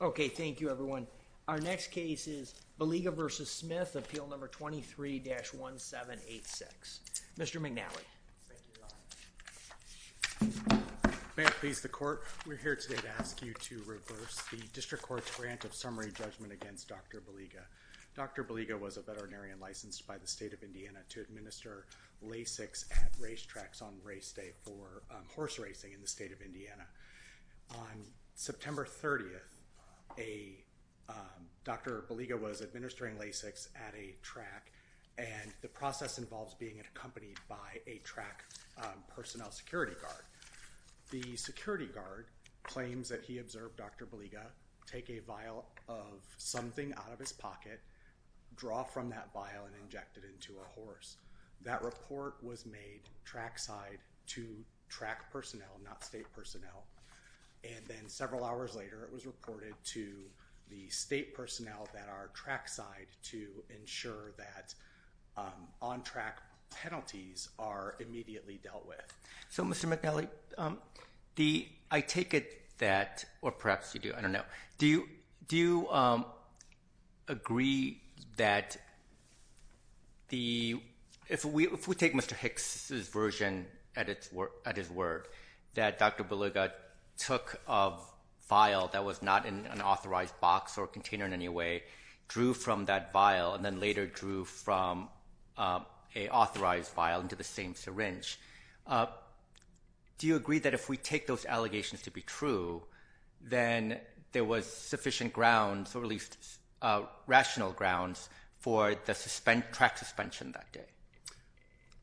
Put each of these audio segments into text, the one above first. Okay, thank you everyone. Our next case is Baliga v. Smith, Appeal No. 23-1786. Mr. McNally. Thank you, Your Honor. May it please the Court, we're here today to ask you to reverse the District Court's grant of summary judgment against Dr. Baliga. Dr. Baliga was a veterinarian licensed by the State of Indiana to administer LASIKs at racetracks on race day for horse racing in the State of Indiana. On September 30th, Dr. Baliga was administering LASIKs at a track, and the process involves being accompanied by a track personnel security guard. The security guard claims that he observed Dr. Baliga take a vial of something out of his pocket, draw from that vial, and inject it into a horse. That report was made trackside to track personnel, not state personnel. And then several hours later, it was reported to the state personnel that are trackside to ensure that on-track penalties are immediately dealt with. So, Mr. McNally, I take it that, or perhaps you do, I don't know. Do you agree that if we take Mr. Hicks' version at his word, that Dr. Baliga took a vial that was not in an authorized box or container in any way, drew from that vial, and then later drew from an authorized vial into the same syringe, do you agree that if we take those allegations to be true, then there was sufficient grounds, or at least rational grounds, for the track suspension that day?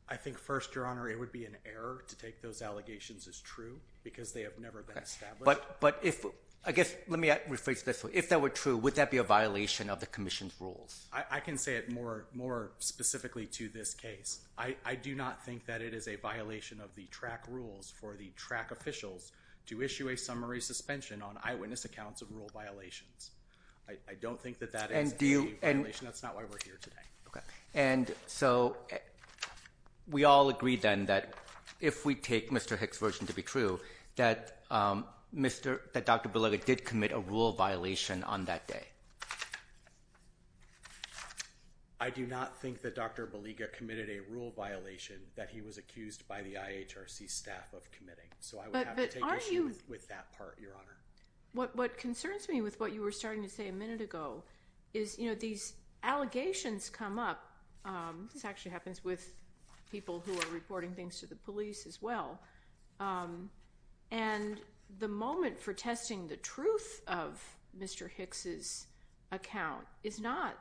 I think first, Your Honor, it would be an error to take those allegations as true, because they have never been established. But if, I guess, let me rephrase this. If they were true, would that be a violation of the Commission's rules? I can say it more specifically to this case. I do not think that it is a violation of the track rules for the track officials to issue a summary suspension on eyewitness accounts of rule violations. I don't think that that is a violation. That's not why we're here today. Okay. And so we all agree, then, that if we take Mr. Hicks' version to be true, that Dr. Baliga did commit a rule violation on that day? I do not think that Dr. Baliga committed a rule violation that he was accused by the IHRC staff of committing. So I would have to take issue with that part, Your Honor. What concerns me with what you were starting to say a minute ago is, you know, these allegations come up. This actually happens with people who are reporting things to the police as well. And the moment for testing the truth of Mr. Hicks' account is not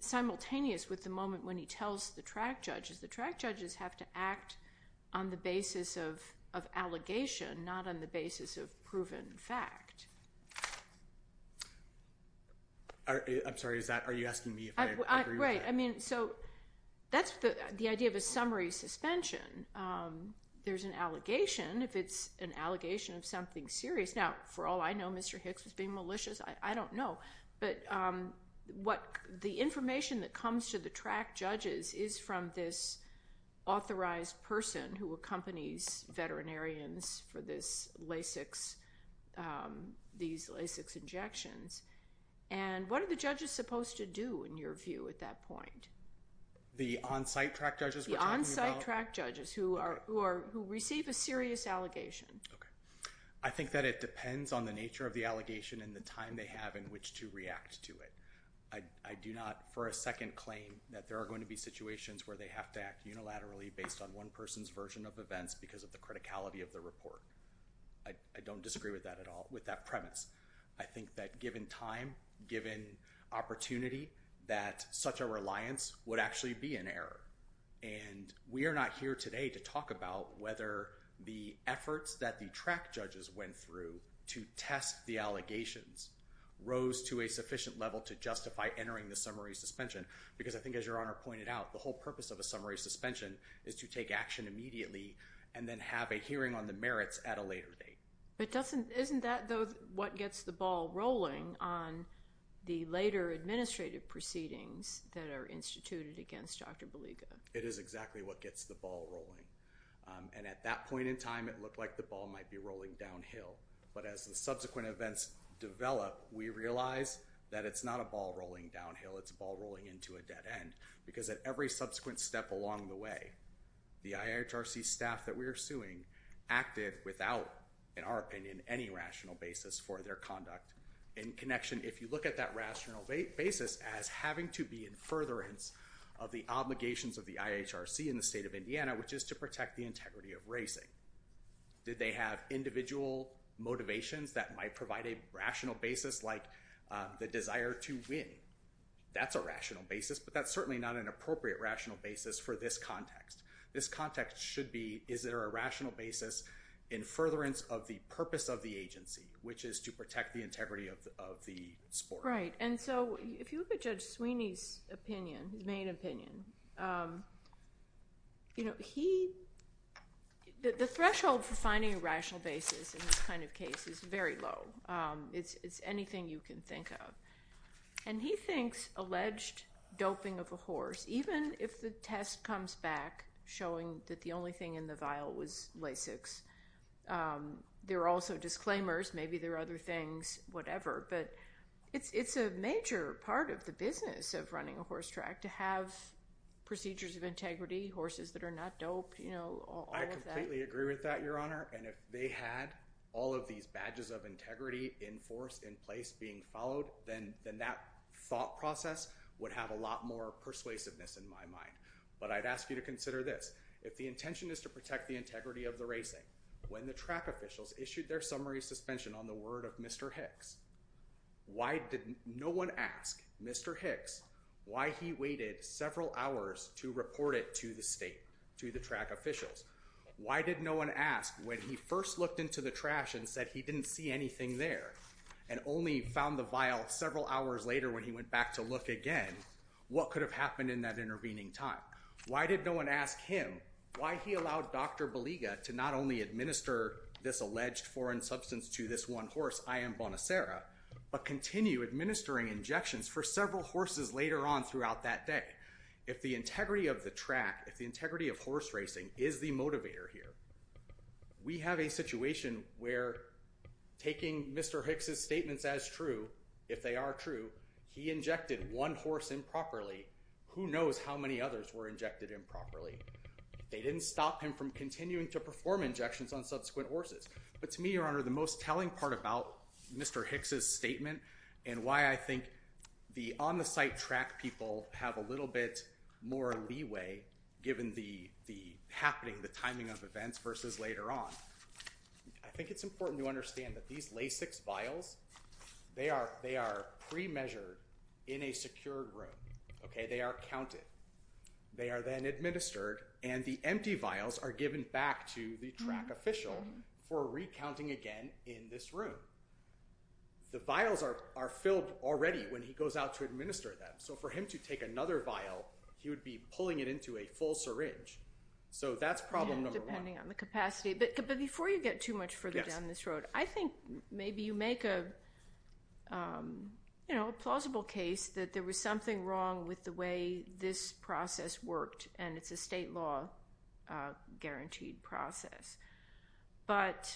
simultaneous with the moment when he tells the track judges. The track judges have to act on the basis of allegation, not on the basis of proven fact. I'm sorry. Are you asking me if I agree with that? Right. I mean, so that's the idea of a summary suspension. There's an allegation, if it's an allegation of something serious. Now, for all I know, Mr. Hicks was being malicious. I don't know. But the information that comes to the track judges is from this authorized person who accompanies veterinarians for these LASIKs injections. And what are the judges supposed to do, in your view, at that point? The on-site track judges we're talking about? The on-site track judges who receive a serious allegation. Okay. I think that it depends on the nature of the allegation and the time they have in which to react to it. I do not, for a second, claim that there are going to be situations where they have to act unilaterally based on one person's version of events because of the criticality of the report. I don't disagree with that at all, with that premise. I think that given time, given opportunity, that such a reliance would actually be an error. And we are not here today to talk about whether the efforts that the track judges went through to test the allegations rose to a sufficient level to justify entering the summary suspension. Because I think, as Your Honor pointed out, the whole purpose of a summary suspension is to take action immediately and then have a hearing on the merits at a later date. But isn't that, though, what gets the ball rolling on the later administrative proceedings that are instituted against Dr. Baliga? It is exactly what gets the ball rolling. And at that point in time, it looked like the ball might be rolling downhill. But as the subsequent events develop, we realize that it's not a ball rolling downhill. It's a ball rolling into a dead end. Because at every subsequent step along the way, the IHRC staff that we are suing acted without, in our opinion, any rational basis for their conduct. In connection, if you look at that rational basis as having to be in furtherance of the obligations of the IHRC in the state of Indiana, which is to protect the integrity of racing. Did they have individual motivations that might provide a rational basis like the desire to win? That's a rational basis. But that's certainly not an appropriate rational basis for this context. This context should be, is there a rational basis in furtherance of the purpose of the agency, which is to protect the integrity of the sport? Right. And so if you look at Judge Sweeney's opinion, his main opinion, the threshold for finding a rational basis in this kind of case is very low. It's anything you can think of. And he thinks alleged doping of a horse, even if the test comes back showing that the only thing in the vial was Lasix. There are also disclaimers. Maybe there are other things, whatever. But it's a major part of the business of running a horse track to have procedures of integrity, horses that are not doped, all of that. I completely agree with that, Your Honor. And if they had all of these badges of integrity in force, in place, being followed, then that thought process would have a lot more persuasiveness in my mind. But I'd ask you to consider this. If the intention is to protect the integrity of the racing, when the track officials issued their summary suspension on the word of Mr. Hicks, why did no one ask Mr. Hicks why he waited several hours to report it to the state, to the track officials? Why did no one ask when he first looked into the trash and said he didn't see anything there, and only found the vial several hours later when he went back to look again, what could have happened in that intervening time? Why did no one ask him why he allowed Dr. Baliga to not only administer this alleged foreign substance to this one horse, I am Bonasera, but continue administering injections for several horses later on throughout that day? If the integrity of the track, if the integrity of horse racing is the motivator here, we have a situation where taking Mr. Hicks' statements as true, if they are true, he injected one horse improperly. Who knows how many others were injected improperly? They didn't stop him from continuing to perform injections on subsequent horses. But to me, Your Honor, the most telling part about Mr. Hicks' statement and why I think the on-the-site track people have a little bit more leeway given the happening, the timing of events versus later on, I think it's important to understand that these LASIX vials, they are pre-measured in a secured room. They are counted. They are then administered, and the empty vials are given back to the track official for recounting again in this room. The vials are filled already when he goes out to administer them. So for him to take another vial, he would be pulling it into a full syringe. So that's problem number one. But before you get too much further down this road, I think maybe you make a plausible case that there was something wrong with the way this process worked, and it's a state law guaranteed process. But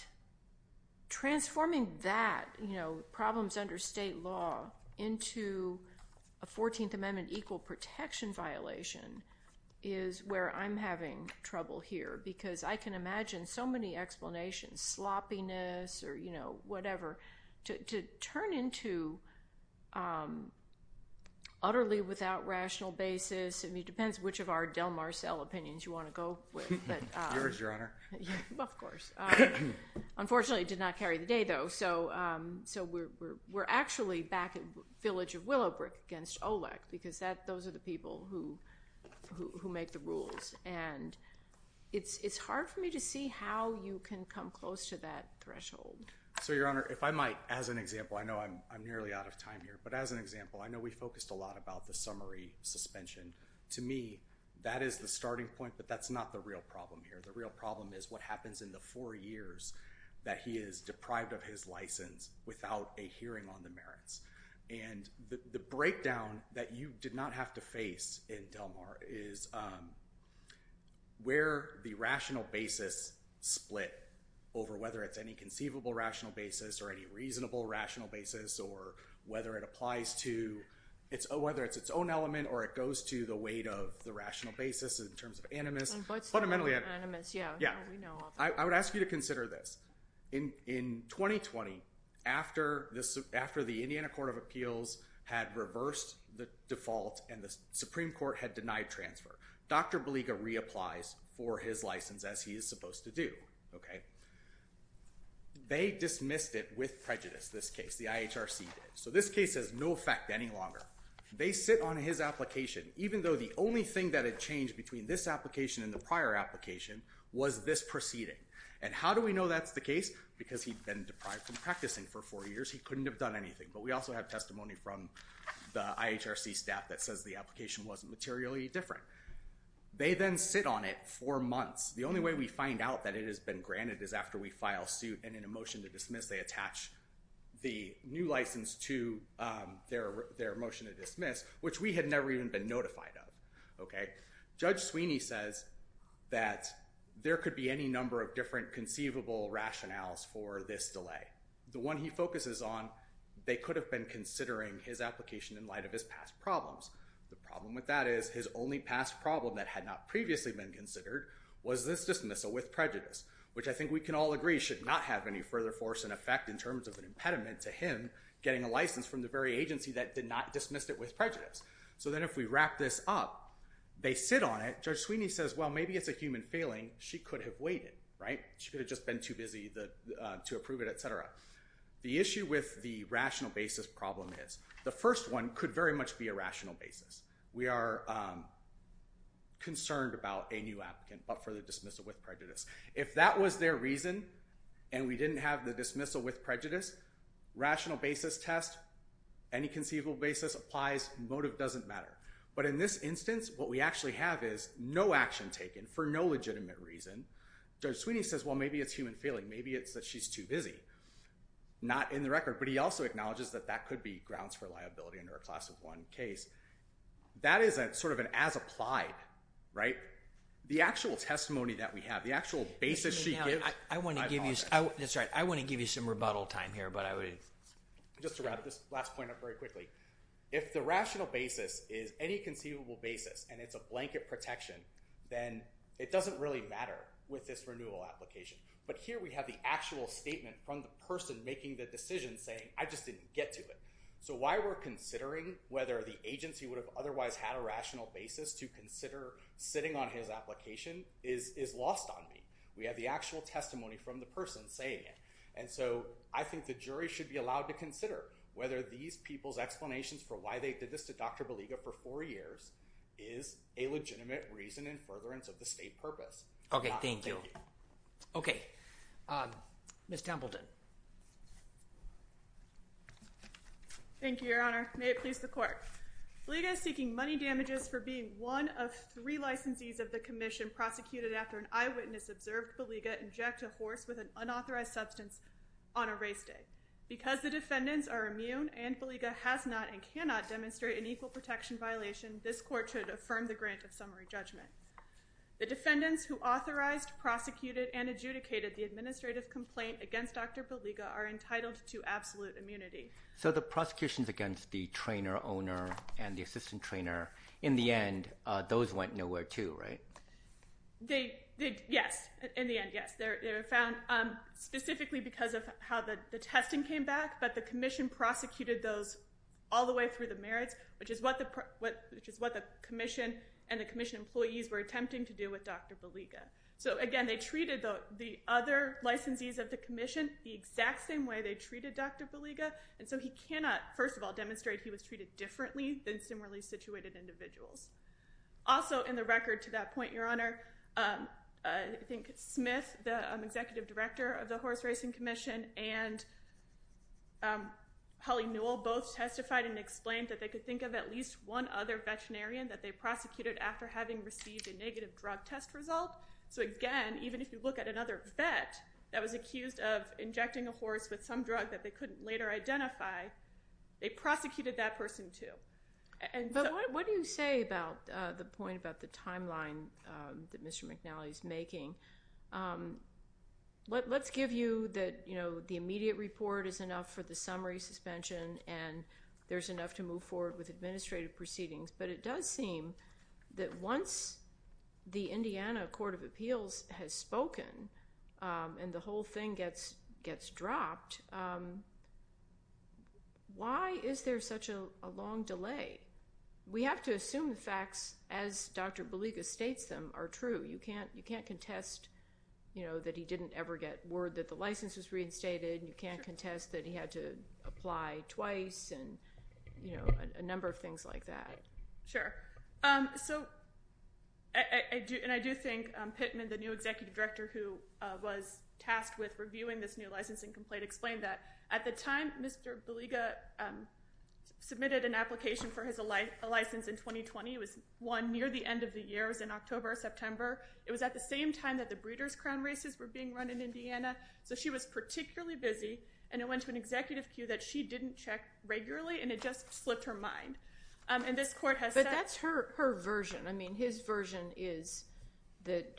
transforming that, you know, problems under state law into a 14th Amendment equal protection violation is where I'm having trouble here because I can imagine so many explanations, sloppiness or, you know, whatever, to turn into utterly without rational basis. I mean, it depends which of our Del Marcelle opinions you want to go with. Yours, Your Honor. Well, of course. Unfortunately, it did not carry the day, though, so we're actually back at village of Willowbrook against OLEC because those are the people who make the rules. And it's hard for me to see how you can come close to that threshold. So, Your Honor, if I might, as an example, I know I'm nearly out of time here, but as an example, I know we focused a lot about the summary suspension. To me, that is the starting point, but that's not the real problem here. The real problem is what happens in the four years that he is deprived of his license without a hearing on the merits. And the breakdown that you did not have to face in Del Mar is where the rational basis split over whether it's any conceivable rational basis or any reasonable rational basis or whether it applies to whether it's its own element or it goes to the weight of the rational basis in terms of animus. Fundamentally, animus, yeah. I would ask you to consider this. In 2020, after the Indiana Court of Appeals had reversed the default and the Supreme Court had denied transfer, Dr. Baliga reapplies for his license as he is supposed to do. They dismissed it with prejudice, this case. The IHRC did. So this case has no effect any longer. They sit on his application, even though the only thing that had changed between this application and the prior application was this proceeding. And how do we know that's the case? Because he'd been deprived from practicing for four years. He couldn't have done anything. But we also have testimony from the IHRC staff that says the application wasn't materially different. They then sit on it for months. The only way we find out that it has been granted is after we file suit and in a motion to dismiss. They attach the new license to their motion to dismiss, which we had never even been notified of. Judge Sweeney says that there could be any number of different conceivable rationales for this delay. The one he focuses on, they could have been considering his application in light of his past problems. The problem with that is his only past problem that had not previously been considered was this dismissal with prejudice, which I think we can all agree should not have any further force in effect in terms of an impediment to him getting a license from the very agency that did not dismiss it with prejudice. So then if we wrap this up, they sit on it. Judge Sweeney says, well, maybe it's a human failing. She could have waited, right? She could have just been too busy to approve it, et cetera. The issue with the rational basis problem is the first one could very much be a rational basis. We are concerned about a new applicant but for the dismissal with prejudice. If that was their reason and we didn't have the dismissal with prejudice, rational basis test, any conceivable basis applies, motive doesn't matter. But in this instance, what we actually have is no action taken for no legitimate reason. Judge Sweeney says, well, maybe it's human failing. Maybe it's that she's too busy. Not in the record. But he also acknowledges that that could be grounds for liability under a class of one case. That is sort of an as applied, right? The actual testimony that we have, the actual basis she gives. I want to give you some rebuttal time here. Just to wrap this last point up very quickly. If the rational basis is any conceivable basis and it's a blanket protection, then it doesn't really matter with this renewal application. But here we have the actual statement from the person making the decision saying, I just didn't get to it. So why we're considering whether the agency would have otherwise had a rational basis to consider sitting on his application is lost on me. We have the actual testimony from the person saying it. And so I think the jury should be allowed to consider whether these people's explanations for why they did this to Dr. Baliga for four years is a legitimate reason and furtherance of the state purpose. OK, thank you. OK. Ms. Templeton. Thank you, Your Honor. May it please the court. Baliga is seeking money damages for being one of three licensees of the commission prosecuted after an eyewitness observed Baliga inject a horse with an unauthorized substance on a race day. Because the defendants are immune and Baliga has not and cannot demonstrate an equal protection violation, this court should affirm the grant of summary judgment. The defendants who authorized, prosecuted and adjudicated the administrative complaint against Dr. Baliga are entitled to absolute immunity. So the prosecutions against the trainer owner and the assistant trainer in the end, those went nowhere, too, right? They did. Yes. In the end. Yes. They're found specifically because of how the testing came back. But the commission prosecuted those all the way through the merits, which is what the commission and the commission employees were attempting to do with Dr. Baliga. So, again, they treated the other licensees of the commission the exact same way they treated Dr. Baliga. And so he cannot, first of all, demonstrate he was treated differently than similarly situated individuals. Also in the record to that point, Your Honor, I think Smith, the executive director of the Horse Racing Commission, and Holly Newell both testified and explained that they could think of at least one other veterinarian that they prosecuted after having received a negative drug test result. So, again, even if you look at another vet that was accused of injecting a horse with some drug that they couldn't later identify, they prosecuted that person, too. But what do you say about the point about the timeline that Mr. McNally is making? Let's give you that, you know, the immediate report is enough for the summary suspension and there's enough to move forward with administrative proceedings. But it does seem that once the Indiana Court of Appeals has spoken and the whole thing gets dropped, why is there such a long delay? We have to assume the facts as Dr. Baliga states them are true. You can't contest, you know, that he didn't ever get word that the license was reinstated. You can't contest that he had to apply twice and, you know, a number of things like that. Sure. So, and I do think Pittman, the new executive director who was tasked with reviewing this new licensing complaint, explained that at the time Mr. Baliga submitted an application for his license in 2020. It was one near the end of the year, it was in October or September. It was at the same time that the Breeders' Crown races were being run in Indiana. So she was particularly busy and it went to an executive queue that she didn't check regularly and it just slipped her mind. And this court has said… But that's her version. I mean, his version is that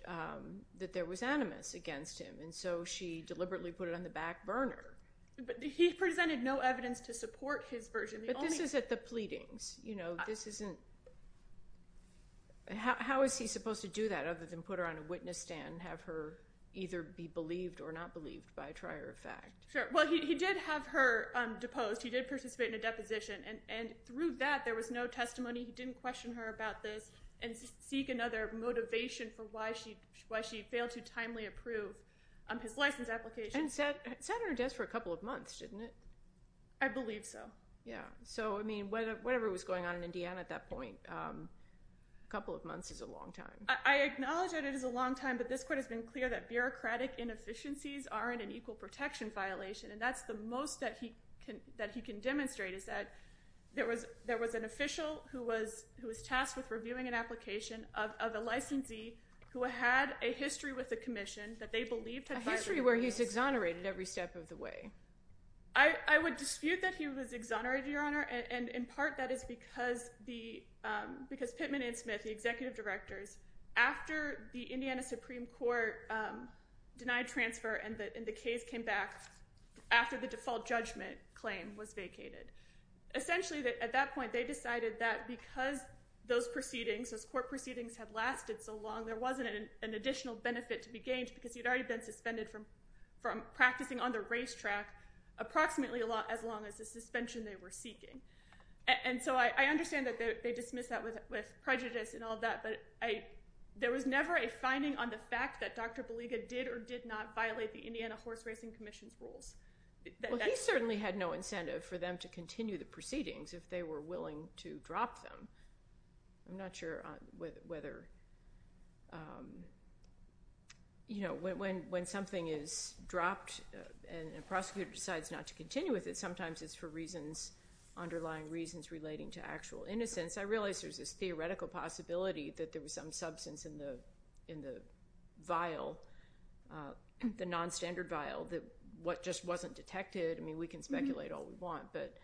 there was animus against him and so she deliberately put it on the back burner. But he presented no evidence to support his version. But this is at the pleadings. You know, this isn't… How is he supposed to do that other than put her on a witness stand and have her either be believed or not believed by a trier of fact? Sure. Well, he did have her deposed. He did participate in a deposition and through that there was no testimony. He didn't question her about this and seek another motivation for why she failed to timely approve his license application. And sat on her desk for a couple of months, didn't it? I believe so. Yeah. So, I mean, whatever was going on in Indiana at that point, a couple of months is a long time. I acknowledge that it is a long time, but this court has been clear that bureaucratic inefficiencies aren't an equal protection violation. And that's the most that he can demonstrate is that there was an official who was tasked with reviewing an application of a licensee who had a history with the commission that they believed had violated the rules. A history where he's exonerated every step of the way. I would dispute that he was exonerated, Your Honor, and in part that is because Pittman and Smith, the executive directors, after the Indiana Supreme Court denied transfer and the case came back after the default judgment claim was vacated. Essentially, at that point, they decided that because those proceedings, those court proceedings had lasted so long, there wasn't an additional benefit to be gained because he had already been suspended from practicing on the racetrack approximately as long as the suspension they were seeking. And so I understand that they dismiss that with prejudice and all that, but there was never a finding on the fact that Dr. Baliga did or did not violate the Indiana Horse Racing Commission's rules. Well, he certainly had no incentive for them to continue the proceedings if they were willing to drop them. I'm not sure whether, you know, when something is dropped and a prosecutor decides not to continue with it, sometimes it's for reasons, underlying reasons relating to actual innocence. I realize there's this theoretical possibility that there was some substance in the vial, the nonstandard vial, that just wasn't detected. I mean, we can speculate all we want, but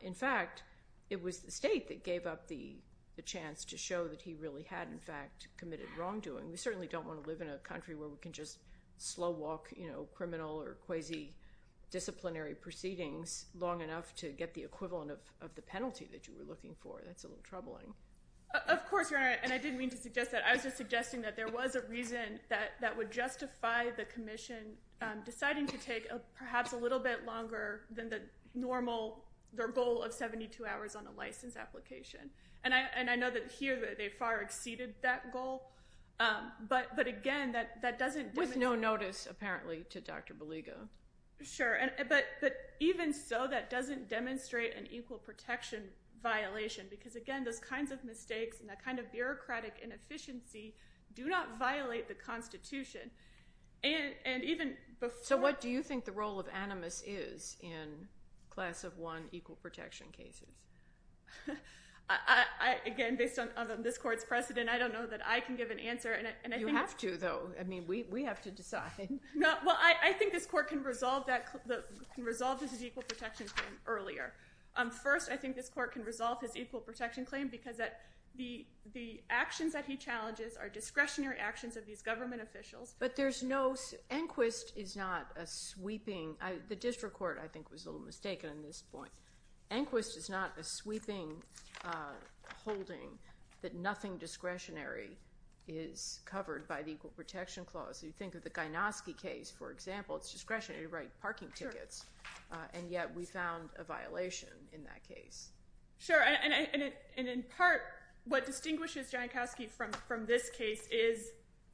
in fact, it was the state that gave up the chance to show that he really had, in fact, committed wrongdoing. We certainly don't want to live in a country where we can just slow walk, you know, criminal or quasi-disciplinary proceedings long enough to get the equivalent of the penalty that you were looking for. That's a little troubling. Of course, Your Honor, and I didn't mean to suggest that. I was just suggesting that there was a reason that would justify the commission deciding to take perhaps a little bit longer than the normal, their goal of 72 hours on a license application. And I know that here they far exceeded that goal. But again, that doesn't… With no notice, apparently, to Dr. Beligo. Sure. But even so, that doesn't demonstrate an equal protection violation because, again, those kinds of mistakes and that kind of bureaucratic inefficiency do not violate the Constitution. And even before… So what do you think the role of animus is in Class of 1 equal protection cases? Again, based on this court's precedent, I don't know that I can give an answer. You have to, though. I mean, we have to decide. Well, I think this court can resolve his equal protection claim earlier. First, I think this court can resolve his equal protection claim because the actions that he challenges are discretionary actions of these government officials. But there's no… Enquist is not a sweeping… The district court, I think, was a little mistaken on this point. Enquist is not a sweeping holding that nothing discretionary is covered by the equal protection clause. You think of the Gynoski case, for example. It's discretionary to write parking tickets. And yet we found a violation in that case. Sure. And in part, what distinguishes Gynoski from this case is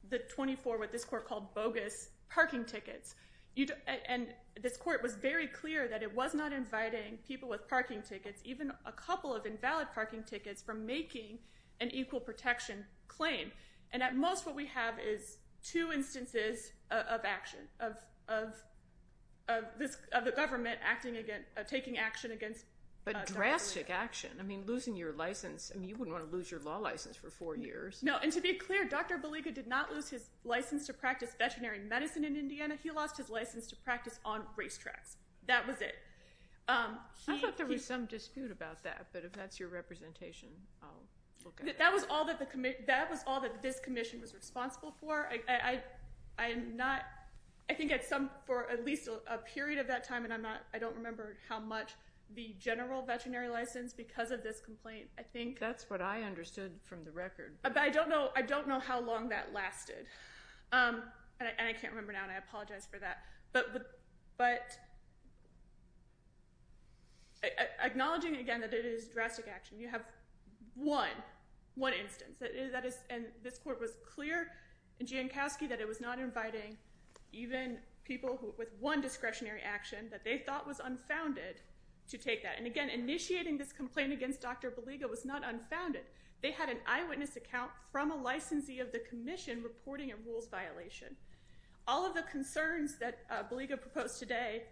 the 24, what this court called bogus, parking tickets. And this court was very clear that it was not inviting people with parking tickets, even a couple of invalid parking tickets, from making an equal protection claim. And at most, what we have is two instances of action, of the government taking action against Dr. Baliga. But drastic action. I mean, losing your license. I mean, you wouldn't want to lose your law license for four years. No, and to be clear, Dr. Baliga did not lose his license to practice veterinary medicine in Indiana. He lost his license to practice on racetracks. That was it. I thought there was some dispute about that. But if that's your representation, I'll look at it. That was all that this commission was responsible for. I think for at least a period of that time, and I don't remember how much, the general veterinary license because of this complaint, I think. That's what I understood from the record. But I don't know how long that lasted. And I can't remember now, and I apologize for that. But acknowledging, again, that it is drastic action, you have one instance. And this court was clear in Jankowski that it was not inviting even people with one discretionary action that they thought was unfounded to take that. And again, initiating this complaint against Dr. Baliga was not unfounded. They had an eyewitness account from a licensee of the commission reporting a rules violation. All of the concerns that Baliga proposed today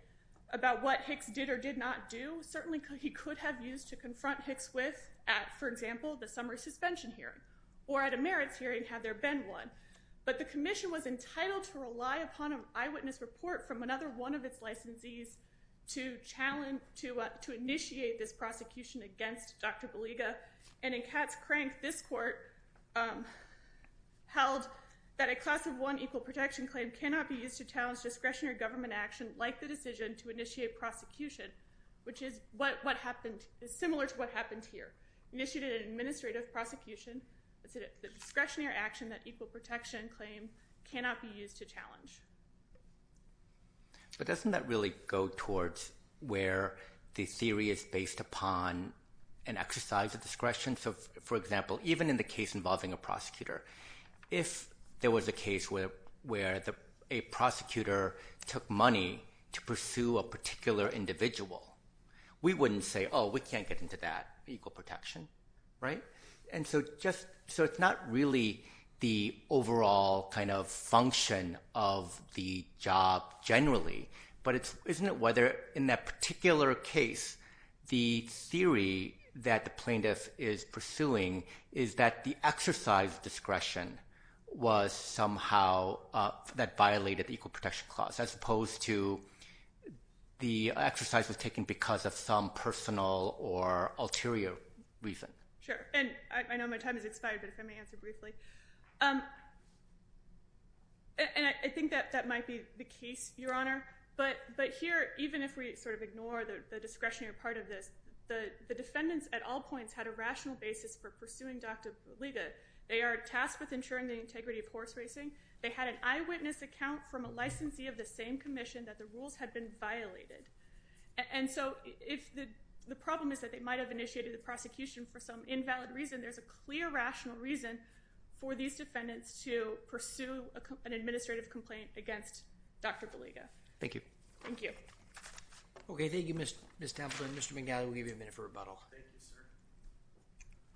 about what Hicks did or did not do, certainly he could have used to confront Hicks with at, for example, the summer suspension hearing. Or at a merits hearing, had there been one. But the commission was entitled to rely upon an eyewitness report from another one of its licensees to initiate this prosecution against Dr. Baliga. And in Katz-Crank, this court held that a class of one equal protection claim cannot be used to challenge discretionary government action, like the decision to initiate prosecution, which is similar to what happened here. Initiated an administrative prosecution, the discretionary action that equal protection claim cannot be used to challenge. But doesn't that really go towards where the theory is based upon an exercise of discretion? For example, even in the case involving a prosecutor, if there was a case where a prosecutor took money to pursue a particular individual, we wouldn't say, oh, we can't get into that equal protection. And so it's not really the overall function of the job generally, but isn't it whether, in that particular case, the theory that the plaintiff is pursuing is that the exercise of discretion was somehow that violated the equal protection clause. As opposed to the exercise was taken because of some personal or ulterior reason. Sure. And I know my time has expired, but if I may answer briefly. And I think that that might be the case, Your Honor. But here, even if we sort of ignore the discretionary part of this, the defendants at all points had a rational basis for pursuing Dr. Baliga. They are tasked with ensuring the integrity of horse racing. They had an eyewitness account from a licensee of the same commission that the rules had been violated. And so if the problem is that they might have initiated the prosecution for some invalid reason, there's a clear rational reason for these defendants to pursue an administrative complaint against Dr. Baliga. Thank you. Thank you. Okay. Thank you, Ms. Tamplin. Mr. Bengali, we'll give you a minute for rebuttal. Thank you, sir.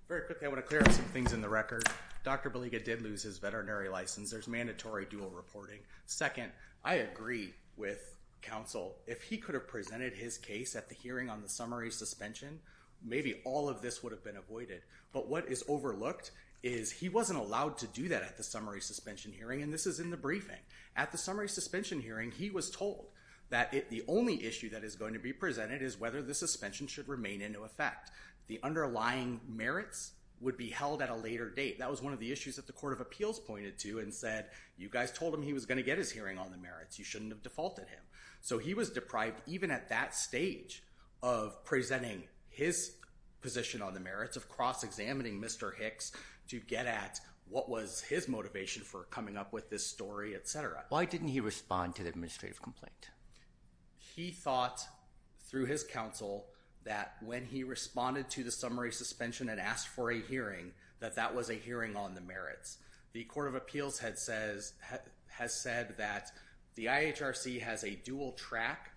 Very quickly, I want to clear up some things in the record. Dr. Baliga did lose his veterinary license. There's mandatory dual reporting. Second, I agree with counsel. If he could have presented his case at the hearing on the summary suspension, maybe all of this would have been avoided. But what is overlooked is he wasn't allowed to do that at the summary suspension hearing, and this is in the briefing. At the summary suspension hearing, he was told that the only issue that is going to be presented is whether the suspension should remain into effect. The underlying merits would be held at a later date. That was one of the issues that the Court of Appeals pointed to and said, you guys told him he was going to get his hearing on the merits. You shouldn't have defaulted him. So he was deprived, even at that stage of presenting his position on the merits, of cross-examining Mr. Hicks to get at what was his motivation for coming up with this story, et cetera. Why didn't he respond to the administrative complaint? He thought, through his counsel, that when he responded to the summary suspension and asked for a hearing, that that was a hearing on the merits. The Court of Appeals has said that the IHRC has a dual track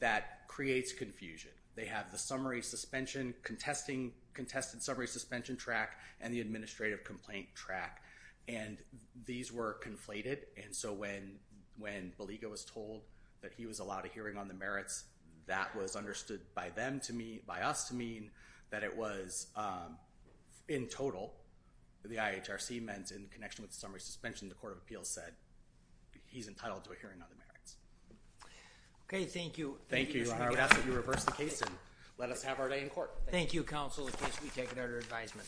that creates confusion. They have the summary suspension, contested summary suspension track, and the administrative complaint track, and these were conflated. And so when Baliga was told that he was allowed a hearing on the merits, that was understood by us to mean that it was, in total, the IHRC meant, in connection with the summary suspension, the Court of Appeals said, he's entitled to a hearing on the merits. Okay, thank you. Thank you. I'm going to ask that you reverse the case and let us have our day in court. Thank you, counsel, in case we take another advisement.